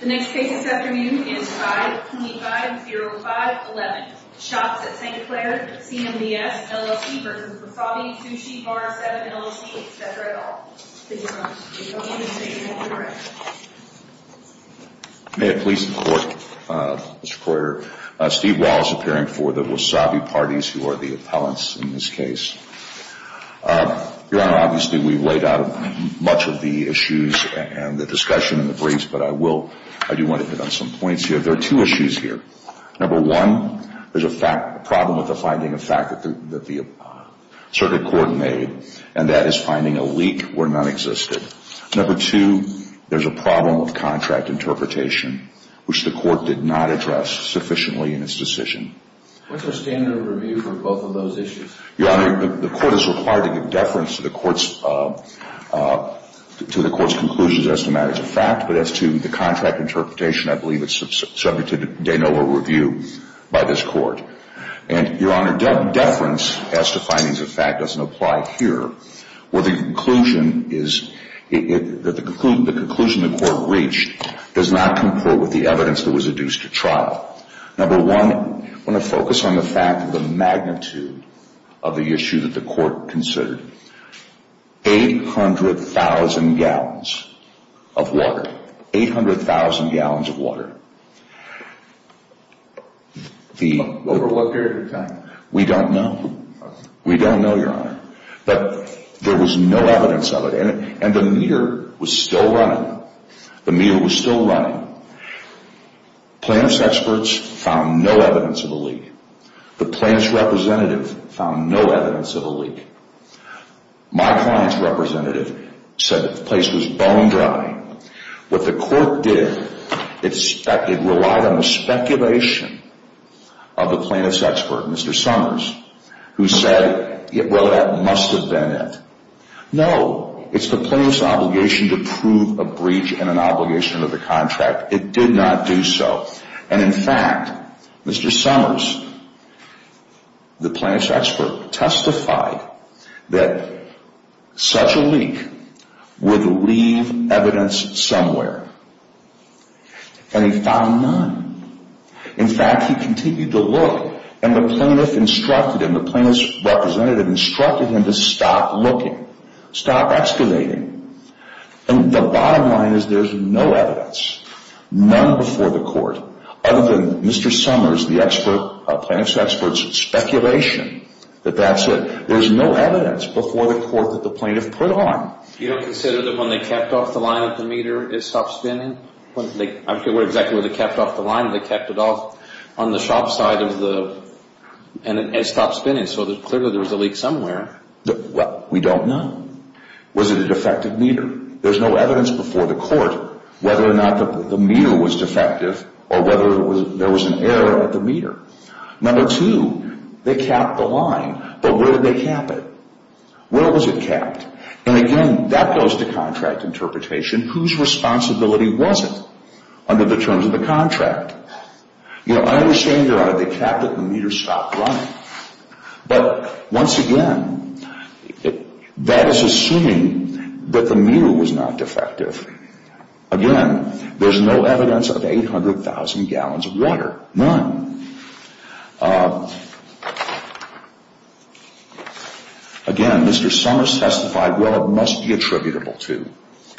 The next case this afternoon is 525-0511. Shops at St. Clair CMBS, LLC v. Wasabi Sushi Bar Seven, LLC, etc., et al. Thank you, Your Honor. Thank you, Your Honor. May it please the Court, Mr. Coyer. Steve Walsh appearing for the Wasabi Parties, who are the appellants in this case. Your Honor, obviously, we've laid out much of the issues and the discussion in the briefs, but I do want to hit on some points here. There are two issues here. Number one, there's a problem with the finding of fact that the circuit court made, and that is finding a leak where none existed. Number two, there's a problem with contract interpretation, which the Court did not address sufficiently in its decision. What's the standard of review for both of those issues? Your Honor, the Court is required to give deference to the Court's conclusions as to matters of fact, but as to the contract interpretation, I believe it's subject to de novo review by this Court. And, Your Honor, deference as to findings of fact doesn't apply here, where the conclusion is that the conclusion the Court reached does not comport with the evidence that was adduced at trial. Number one, I want to focus on the fact of the magnitude of the issue that the Court considered. 800,000 gallons of water. 800,000 gallons of water. Over what period of time? We don't know. We don't know, Your Honor. But there was no evidence of it, and the meter was still running. The meter was still running. Plaintiff's experts found no evidence of a leak. The plaintiff's representative found no evidence of a leak. My client's representative said the place was bone dry. What the Court did, it relied on the speculation of the plaintiff's expert, Mr. Summers, who said, well, that must have been it. No, it's the plaintiff's obligation to prove a breach in an obligation of the contract. It did not do so. And in fact, Mr. Summers, the plaintiff's expert, testified that such a leak would leave evidence somewhere. And he found none. In fact, he continued to look, and the plaintiff instructed him, the plaintiff's representative instructed him to stop looking, stop excavating. The bottom line is there's no evidence, none before the Court, other than Mr. Summers, the plaintiff's expert's speculation that that's it. There's no evidence before the Court that the plaintiff put on. You don't consider that when they capped off the line of the meter, it stopped spinning? I forget exactly where they capped off the line, but they capped it off on the shop side of the and it stopped spinning, so clearly there was a leak somewhere. Well, we don't know. Was it a defective meter? There's no evidence before the Court whether or not the meter was defective or whether there was an error at the meter. Number two, they capped the line, but where did they cap it? Where was it capped? And again, that goes to contract interpretation. Whose responsibility was it under the terms of the contract? You know, I understand they capped it and the meter stopped running. But once again, that is assuming that the meter was not defective. Again, there's no evidence of 800,000 gallons of water, none. Again, Mr. Summers testified, well, it must be attributable to.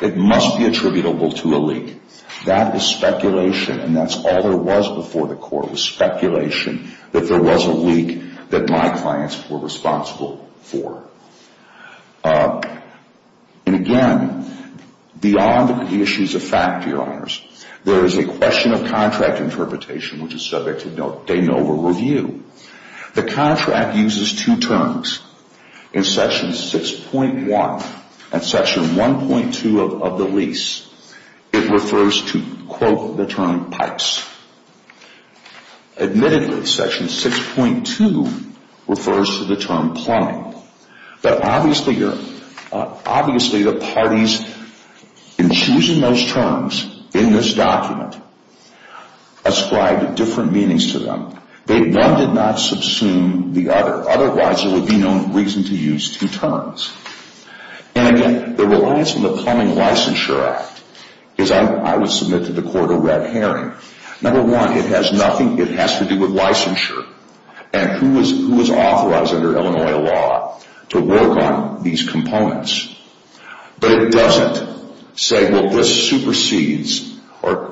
It must be attributable to a leak. That was speculation, and that's all there was before the Court was speculation that there was a leak that my clients were responsible for. And again, beyond the issues of fact, dear honors, there is a question of contract interpretation which is subject to de novo review. The contract uses two terms. In Section 6.1 and Section 1.2 of the lease, it refers to, quote, the term pipes. Admittedly, Section 6.2 refers to the term plumbing, but obviously the parties in choosing those terms in this document ascribed different meanings to them. One did not subsume the other. Otherwise, there would be no reason to use two terms. And again, the reliance on the Plumbing Licensure Act is, I would submit to the Court a red herring. Number one, it has nothing, it has to do with licensure and who is authorized under Illinois law to work on these components. But it doesn't say, well, this supersedes or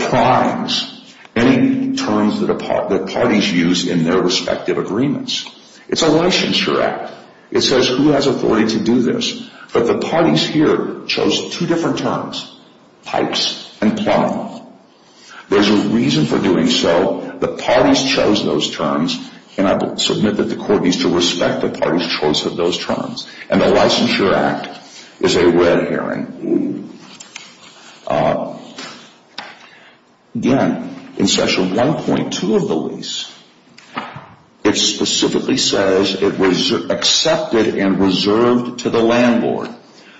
primes any terms that parties use in their respective agreements. It's a licensure act. It says who has authority to do this. But the parties here chose two different terms, pipes and plumbing. There's a reason for doing so. The parties chose those terms, and I would submit that the Court needs to respect the parties' choice of those terms. And the licensure act is a red herring. Again, in Section 1.2 of the lease, it specifically says it was accepted and reserved to the landlord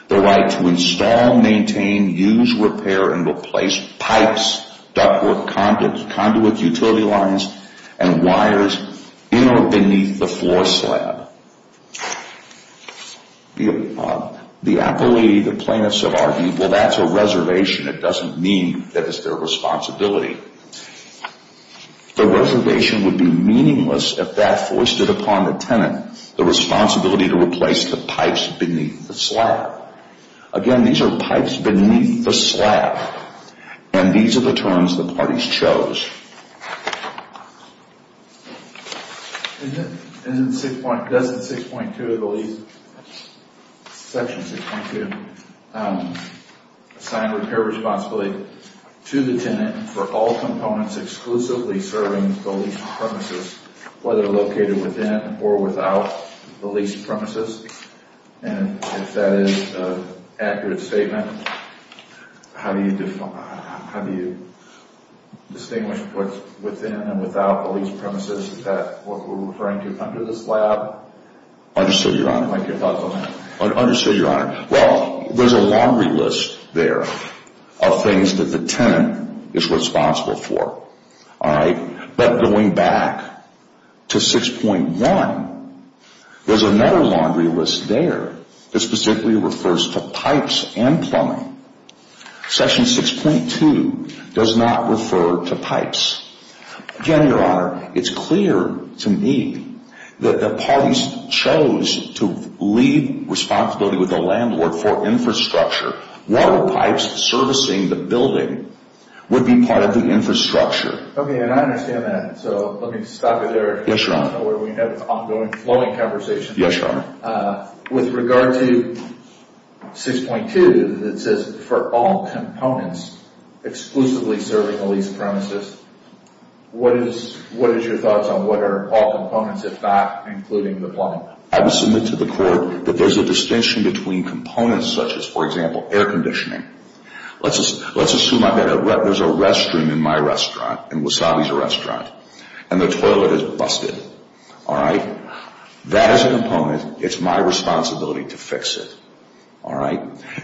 the right to install, maintain, use, repair, and replace pipes, ductwork, conduit, utility lines, and wires in or beneath the floor slab. I believe the plaintiffs have argued, well, that's a reservation. It doesn't mean that it's their responsibility. The reservation would be meaningless if that foisted upon the tenant the responsibility to replace the pipes beneath the slab. Again, these are pipes beneath the slab, and these are the terms the parties chose. Does Section 6.2 of the lease Section 6.2 assign repair responsibility to the tenant for all components exclusively serving the leased premises, whether located within or without the leased premises? And if that is an accurate statement, how do you distinguish what's within and without the leased premises that we're referring to under the slab? Understood, Your Honor. I'd like your thoughts on that. Understood, Your Honor. Well, there's a laundry list there of things that the tenant is responsible for. But going back to 6.1, there's another laundry list there that specifically refers to pipes and plumbing. Section 6.2 does not refer to pipes. Again, Your Honor, it's clear to me that the parties chose to leave responsibility with the landlord for infrastructure. Water pipes servicing the building would be part of the infrastructure. Okay, and I understand that. So let me stop you there. Yes, Your Honor. I don't know whether we had an ongoing flowing conversation. Yes, Your Honor. With regard to 6.2 that says for all components exclusively serving the leased premises, what is your thoughts on what are all components, if not including the plumbing? I would submit to the court that there's a distinction between components such as, for example, air conditioning. Let's assume there's a restroom in my restaurant, in Wasabi's restaurant, and the toilet is busted, all right? That is a component. It's my responsibility to fix it, all right?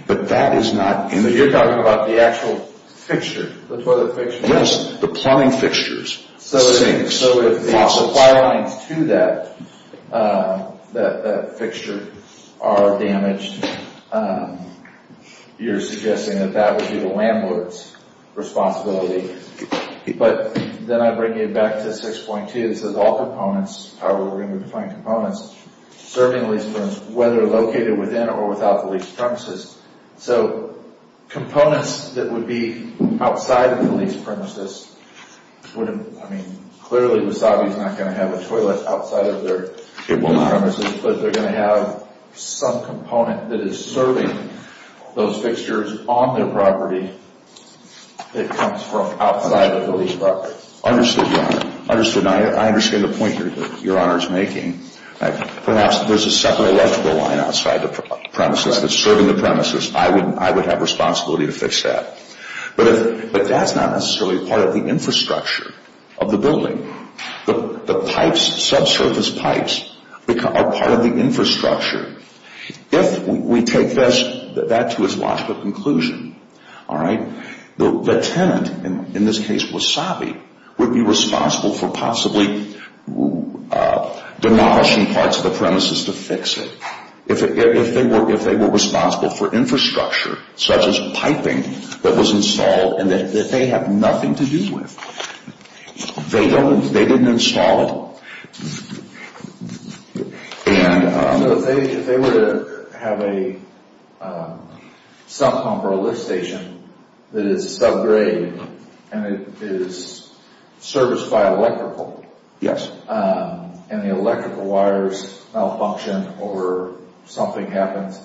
But that is not in the… So you're talking about the actual fixture, the toilet fixture? Yes, the plumbing fixtures. So if the supply lines to that fixture are damaged, you're suggesting that that would be the landlord's responsibility. But then I bring it back to 6.2. It says all components, however we're going to define components, serving the leased premises, whether located within or without the leased premises. So components that would be outside of the leased premises wouldn't, I mean, clearly Wasabi's not going to have a toilet outside of their premises, but they're going to have some component that is serving those fixtures on their property that comes from outside of the leased property. Understood, Your Honor. Understood. I understand the point Your Honor is making. Perhaps there's a separate electrical line outside the premises that's serving the premises. I would have responsibility to fix that. But that's not necessarily part of the infrastructure of the building. The pipes, subsurface pipes, are part of the infrastructure. If we take that to its logical conclusion, all right, the tenant, in this case Wasabi, would be responsible for possibly demolishing parts of the premises to fix it. If they were responsible for infrastructure such as piping that was installed and that they have nothing to do with. They didn't install it. If they were to have a sub pump or a lift station that is subgrade and it is serviced by electrical and the electrical wires malfunction or something happens,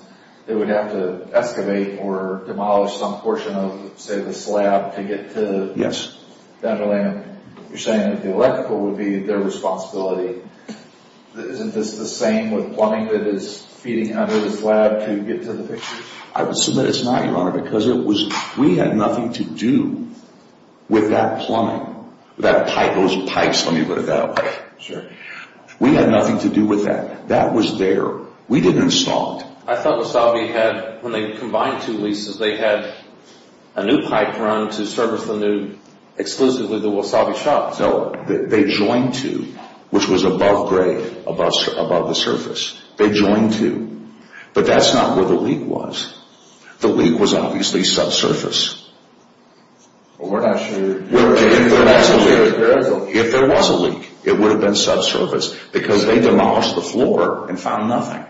they would have to excavate or demolish some portion of, say, the slab to get to the underlayment. You're saying the electrical would be their responsibility. Isn't this the same with plumbing that is feeding under the slab to get to the fixture? I would submit it's not, Your Honor, because we had nothing to do with that plumbing. Those pipes, let me put it that way. Sure. We had nothing to do with that. That was there. We didn't install it. I thought Wasabi had, when they combined two leases, they had a new pipe run to service the new, exclusively the Wasabi shops. No, they joined two, which was above grade, above the surface. They joined two. But that's not where the leak was. The leak was obviously subsurface. If there was a leak, it would have been subsurface because they demolished the floor and found nothing.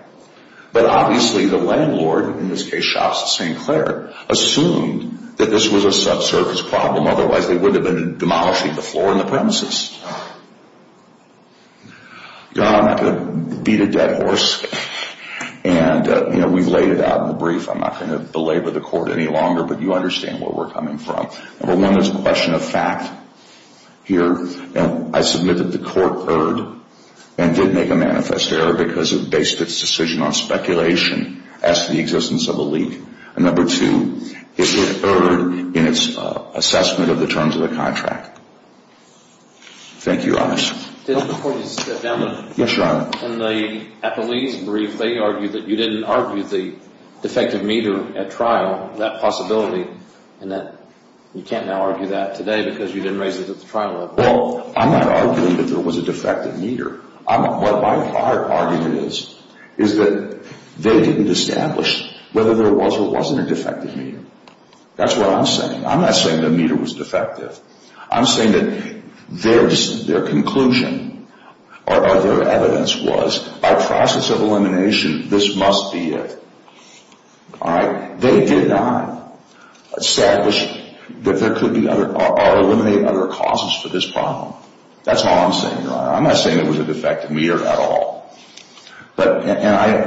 But obviously the landlord, in this case shops at St. Clair, assumed that this was a subsurface problem. Otherwise, they would have been demolishing the floor and the premises. Your Honor, I'm not going to beat a dead horse. We've laid it out in the brief. I'm not going to belabor the court any longer, but you understand where we're coming from. Number one, there's a question of fact here. I submit that the court erred and did make a manifest error because it based its decision on speculation as to the existence of a leak. Number two, it erred in its assessment of the terms of the contract. Thank you, Your Honor. Your Honor, in the police brief, they argued that you didn't argue the defective meter at trial, that possibility, and that you can't now argue that today because you didn't raise it at the trial level. Well, I'm not arguing that there was a defective meter. What my hard argument is is that they didn't establish whether there was or wasn't a defective meter. That's what I'm saying. I'm not saying the meter was defective. I'm saying that their conclusion or their evidence was by process of elimination, this must be it. All right? They did not establish that there could be other or eliminate other causes for this problem. That's all I'm saying, Your Honor. I'm not saying there was a defective meter at all. And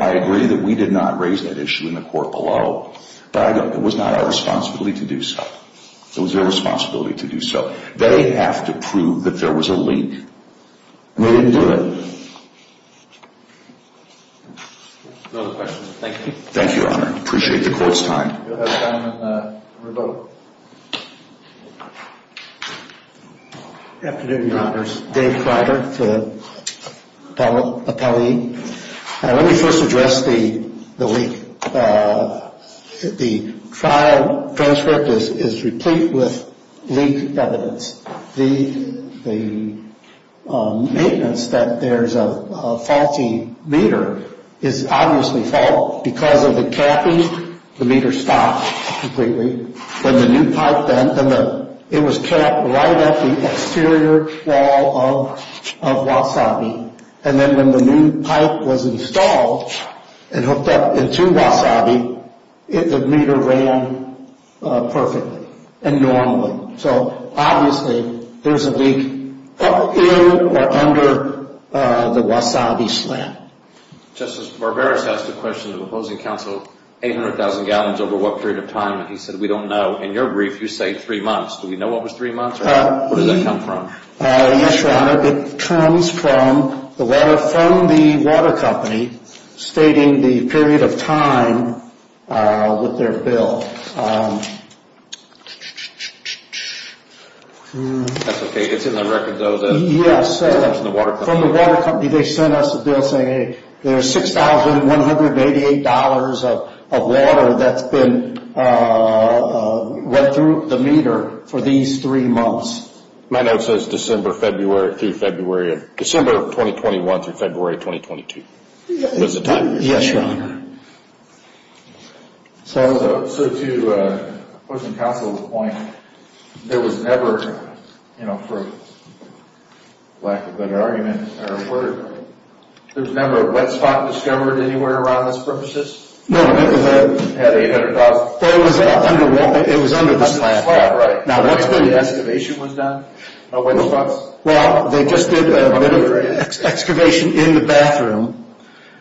I agree that we did not raise that issue in the court below. But I go, it was not our responsibility to do so. It was their responsibility to do so. They have to prove that there was a leak. We didn't do it. No other questions. Thank you. Thank you, Your Honor. Appreciate the court's time. We'll have time for a vote. Afternoon, Your Honors. Dave Fryder, the appellee. Let me first address the leak. The trial transcript is replete with leak evidence. The maintenance that there's a faulty meter is obviously fault because of the capping. The meter stopped completely. When the new pipe bent, it was capped right at the exterior wall of Wasabi. And then when the new pipe was installed and hooked up into Wasabi, the meter ran perfectly and normally. So, obviously, there's a leak up here or under the Wasabi slab. Justice Barberis asked a question to the opposing counsel, 800,000 gallons over what period of time? And he said, we don't know. In your brief, you say three months. Do we know what was three months or where did that come from? Yes, Your Honor. It comes from the water company stating the period of time with their bill. That's okay. It's in the record, though, that it comes from the water company. From the water company, they sent us a bill saying there's $6,188 of water that's been went through the meter for these three months. My note says December, February, through February. December of 2021 through February 2022. Was it time? Yes, Your Honor. So, to opposing counsel's point, there was never, for lack of a better word, there was never a wet spot discovered anywhere around this premises? No, it was under the slab. Now, when the excavation was done? Well, they just did an excavation in the bathroom.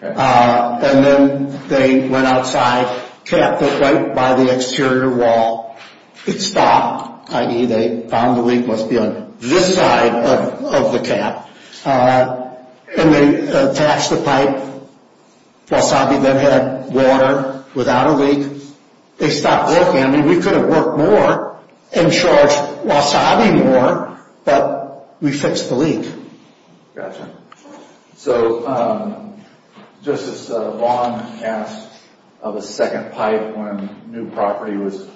And then they went outside, capped it right by the exterior wall. It stopped, i.e., they found the leak must be on this side of the cap. And they attached the pipe. Wasabi then had water without a leak. They stopped working. I mean, we could have worked more and charged Wasabi more, but we fixed the leak. Gotcha. So, Justice Vaughn asked of a second pipe when new property was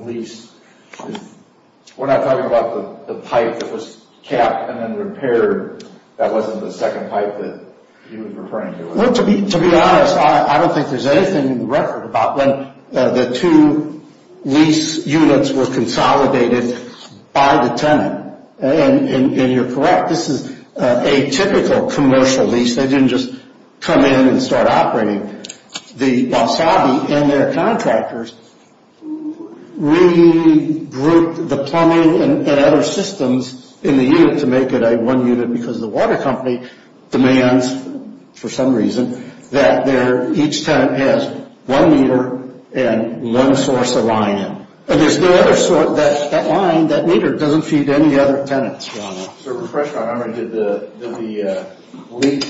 leased. We're not talking about the pipe that was capped and then repaired. That wasn't the second pipe that he was referring to. Well, to be honest, I don't think there's anything in the record about when the two lease units were consolidated by the tenant. And you're correct, this is a typical commercial lease. They didn't just come in and start operating. The Wasabi and their contractors regrouped the plumbing and other systems in the unit to make it a one unit because the water company demands, for some reason, that each tenant has one meter and one source of line in. And there's no other source, that line, that meter doesn't feed any other tenants. Sir, refresh my memory. Did the leak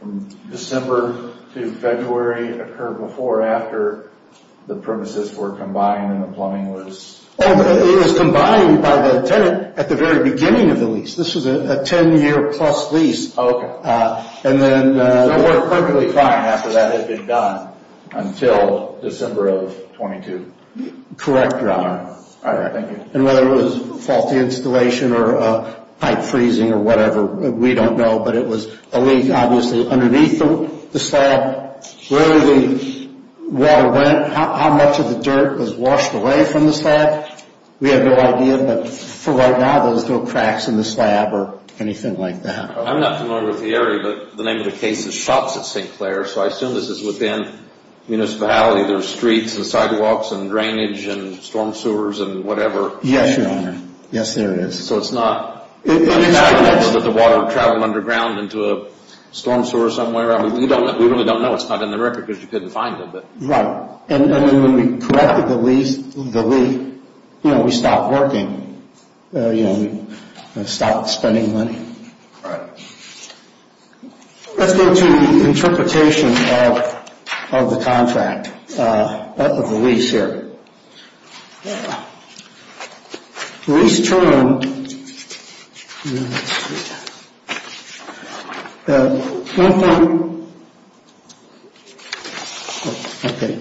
from December to February occur before or after the premises were combined and the plumbing was? It was combined by the tenant at the very beginning of the lease. This was a 10 year plus lease. Oh, okay. So it worked perfectly fine after that had been done until December of 22. Correct, Your Honor. All right, thank you. And whether it was faulty installation or pipe freezing or whatever, we don't know. But it was a leak, obviously, underneath the slab. Where the water went, how much of the dirt was washed away from the slab, we have no idea. But for right now, there's no cracks in the slab or anything like that. I'm not familiar with the area, but the name of the case is Shops at St. Clair, so I assume this is within municipality. There's streets and sidewalks and drainage and storm sewers and whatever. Yes, Your Honor. Yes, there is. So it's not? I mean, I don't know that the water traveled underground into a storm sewer somewhere. I mean, we really don't know. It's not in the record because you couldn't find it. Right. And when we corrected the leak, we stopped working. We stopped spending money. Right. Let's go to the interpretation of the contract, of the lease here. The lease term, the 1.2,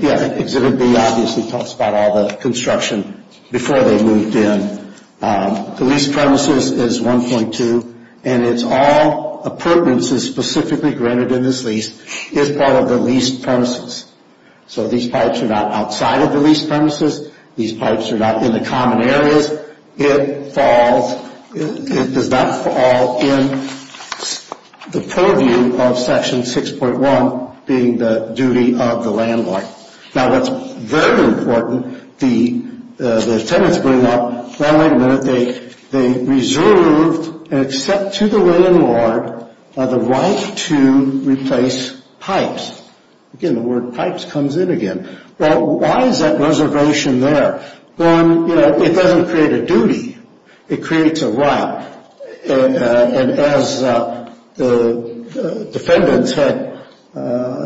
yeah, Exhibit B obviously talks about all the construction before they moved in. The lease premises is 1.2, and it's all appurtenances specifically granted in this lease, is part of the lease premises. So these pipes are not outside of the lease premises. These pipes are not in the common areas. It falls, it does not fall in the purview of Section 6.1 being the duty of the landlord. Now, what's very important, the tenants bring up, one way or another, they reserve, except to the landlord, the right to replace pipes. Again, the word pipes comes in again. Well, why is that reservation there? Well, you know, it doesn't create a duty. It creates a right. And as the defendants had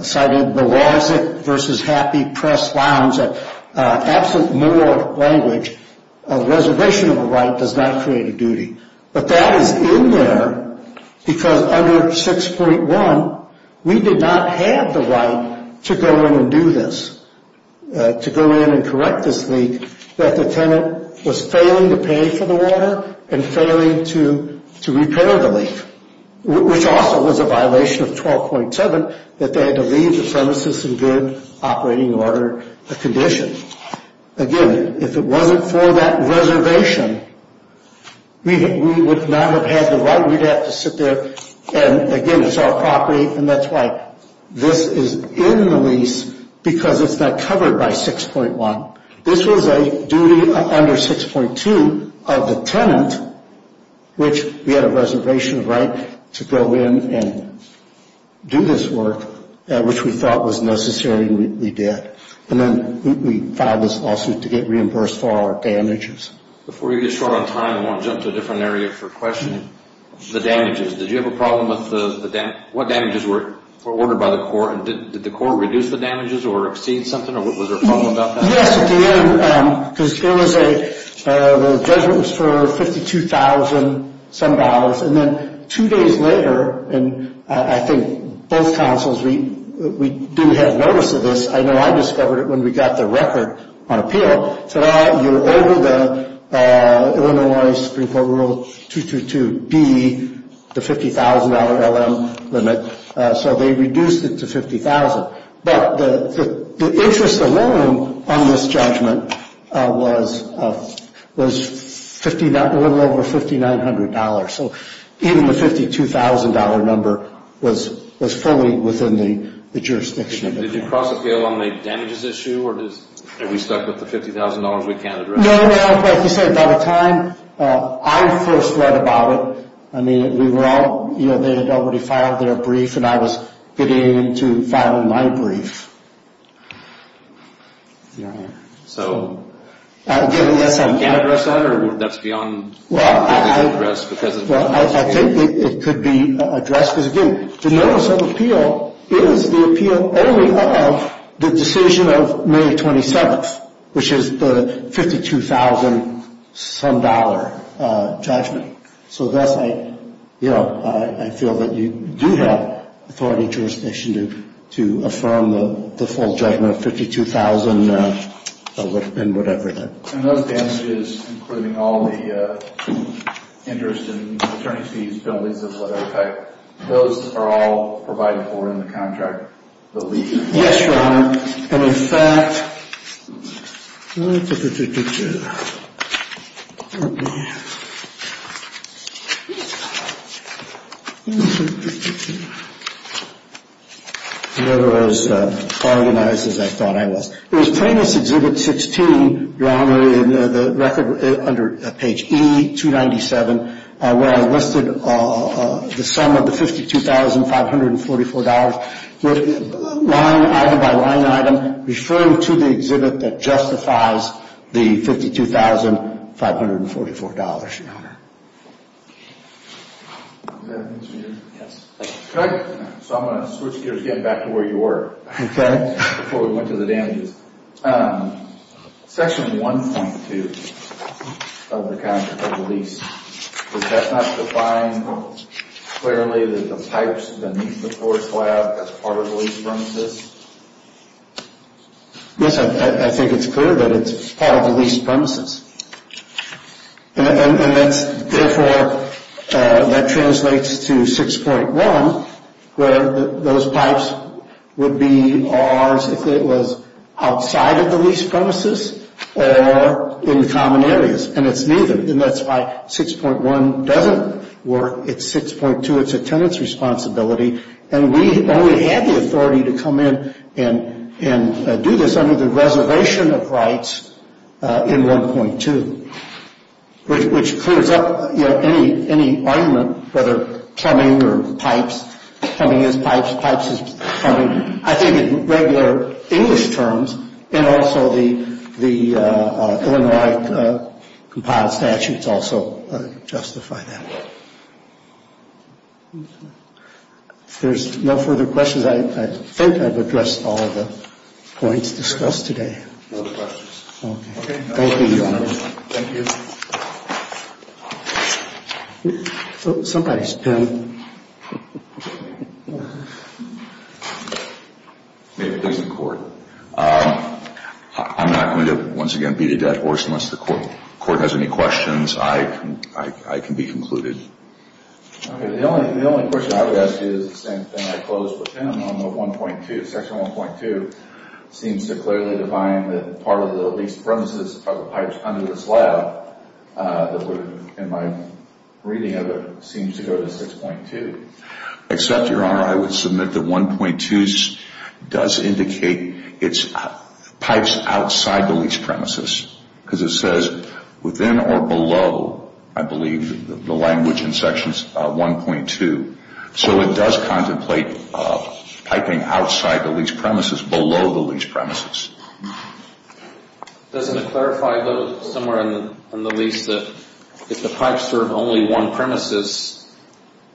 cited, the laws versus happy press lounge, absent moral language, a reservation of a right does not create a duty. But that is in there because under 6.1, we did not have the right to go in and do this, to go in and correct this leak, that the tenant was failing to pay for the water and failing to repair the leak, which also was a violation of 12.7, that they had to leave the premises in good operating order condition. Again, if it wasn't for that reservation, we would not have had the right. We'd have to sit there and, again, it's our property, and that's why this is in the lease because it's not covered by 6.1. This was a duty under 6.2 of the tenant, which we had a reservation of right to go in and do this work, which we thought was necessary and we did. And then we filed this lawsuit to get reimbursed for our damages. Before we get short on time, I want to jump to a different area for questioning. The damages, did you have a problem with the damages? What damages were ordered by the court? Did the court reduce the damages or exceed something, or was there a problem about that? Yes, at the end, because the judgment was for $52,000-some dollars, and then two days later, and I think both counsels, we do have notice of this. I know I discovered it when we got the record on appeal. It said, ah, you're over the Illinois Supreme Court Rule 222B, the $50,000 LM limit, so they reduced it to $50,000. But the interest alone on this judgment was a little over $5,900, so even the $52,000 number was fully within the jurisdiction of it. Did you cross-appeal on the damages issue, or are we stuck with the $50,000 we can't address? No, no, like you said, by the time I first read about it, I mean, we were all, you know, they had already filed their brief, and I was beginning to file my brief. So we can't address that, or that's beyond what we can address? Well, I think it could be addressed because, again, the notice of appeal is the appeal only of the decision of May 27th, which is the $52,000-some dollar judgment. So thus, you know, I feel that you do have authority and jurisdiction to affirm the full judgment of $52,000 and whatever that is. And those damages, including all the interest and attorney fees, penalties of whatever type, those are all provided for in the contract, the lease. Yes, Your Honor. And, in fact, let me take a picture. Okay. I'm never as organized as I thought I was. It was Plaintiff's Exhibit 16, Your Honor, under page E297, where I listed the sum of the $52,544 line item by line item, referring to the exhibit that justifies the $52,544, Your Honor. So I'm going to switch gears again back to where you were before we went to the damages. Section 1.2 of the contract of the lease, does that not define clearly that the pipes beneath the floor slab are part of the lease premises? Yes, I think it's clear that it's part of the lease premises. And that's, therefore, that translates to 6.1, where those pipes would be ours if it was outside of the lease premises or in common areas. And it's neither. And that's why 6.1 doesn't work. It's 6.2, it's a tenant's responsibility. And we only had the authority to come in and do this under the reservation of rights in 1.2, which clears up any argument, whether plumbing or pipes. Plumbing is pipes. Pipes is plumbing. I think in regular English terms, and also the Illinois compiled statutes also justify that. If there's no further questions, I think I've addressed all of the points discussed today. No further questions. Okay. Thank you, Your Honor. Thank you. Somebody's pen. May it please the Court. I'm not going to, once again, beat a dead horse unless the Court has any questions. I can be concluded. Okay. The only question I would ask you is the same thing I posed for Tim on the 1.2. Section 1.2 seems to clearly define that part of the leased premises are the pipes under this lab. In my reading of it, it seems to go to 6.2. Except, Your Honor, I would submit that 1.2 does indicate it's pipes outside the leased premises. Because it says within or below, I believe, the language in Section 1.2. So it does contemplate piping outside the leased premises, below the leased premises. Doesn't it clarify, though, somewhere in the lease that if the pipes serve only one premises,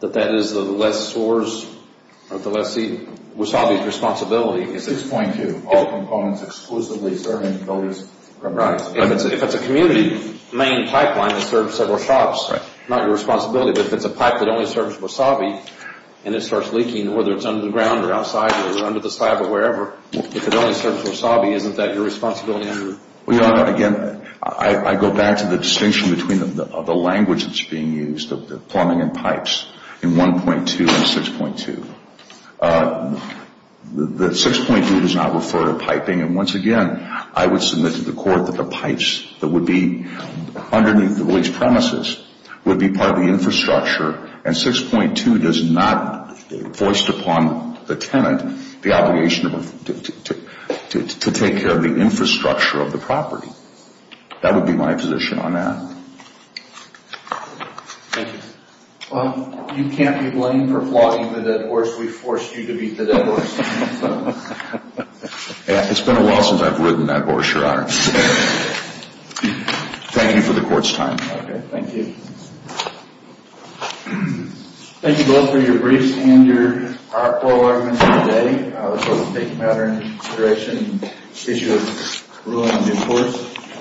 that that is the less source of the less eaten wasabi's responsibility? 6.2. All components exclusively serving the leased premises. Right. If it's a community main pipeline that serves several shops, not your responsibility. But if it's a pipe that only serves wasabi and it starts leaking, whether it's underground or outside or under the slab or wherever, if it only serves wasabi, isn't that your responsibility? Your Honor, again, I go back to the distinction between the language that's being used, the plumbing and pipes, in 1.2 and 6.2. The 6.2 does not refer to piping. And once again, I would submit to the court that the pipes that would be underneath the leased premises would be part of the infrastructure. And 6.2 does not, voiced upon the tenant, the obligation to take care of the infrastructure of the property. That would be my position on that. Thank you. You can't be blamed for flogging the dead horse. We forced you to beat the dead horse. It's been a while since I've ridden that horse, Your Honor. Thank you for the court's time. Okay, thank you. Thank you both for your briefs and your oral arguments today. I was hoping to take a matter of consideration on the issue of ruining a new horse.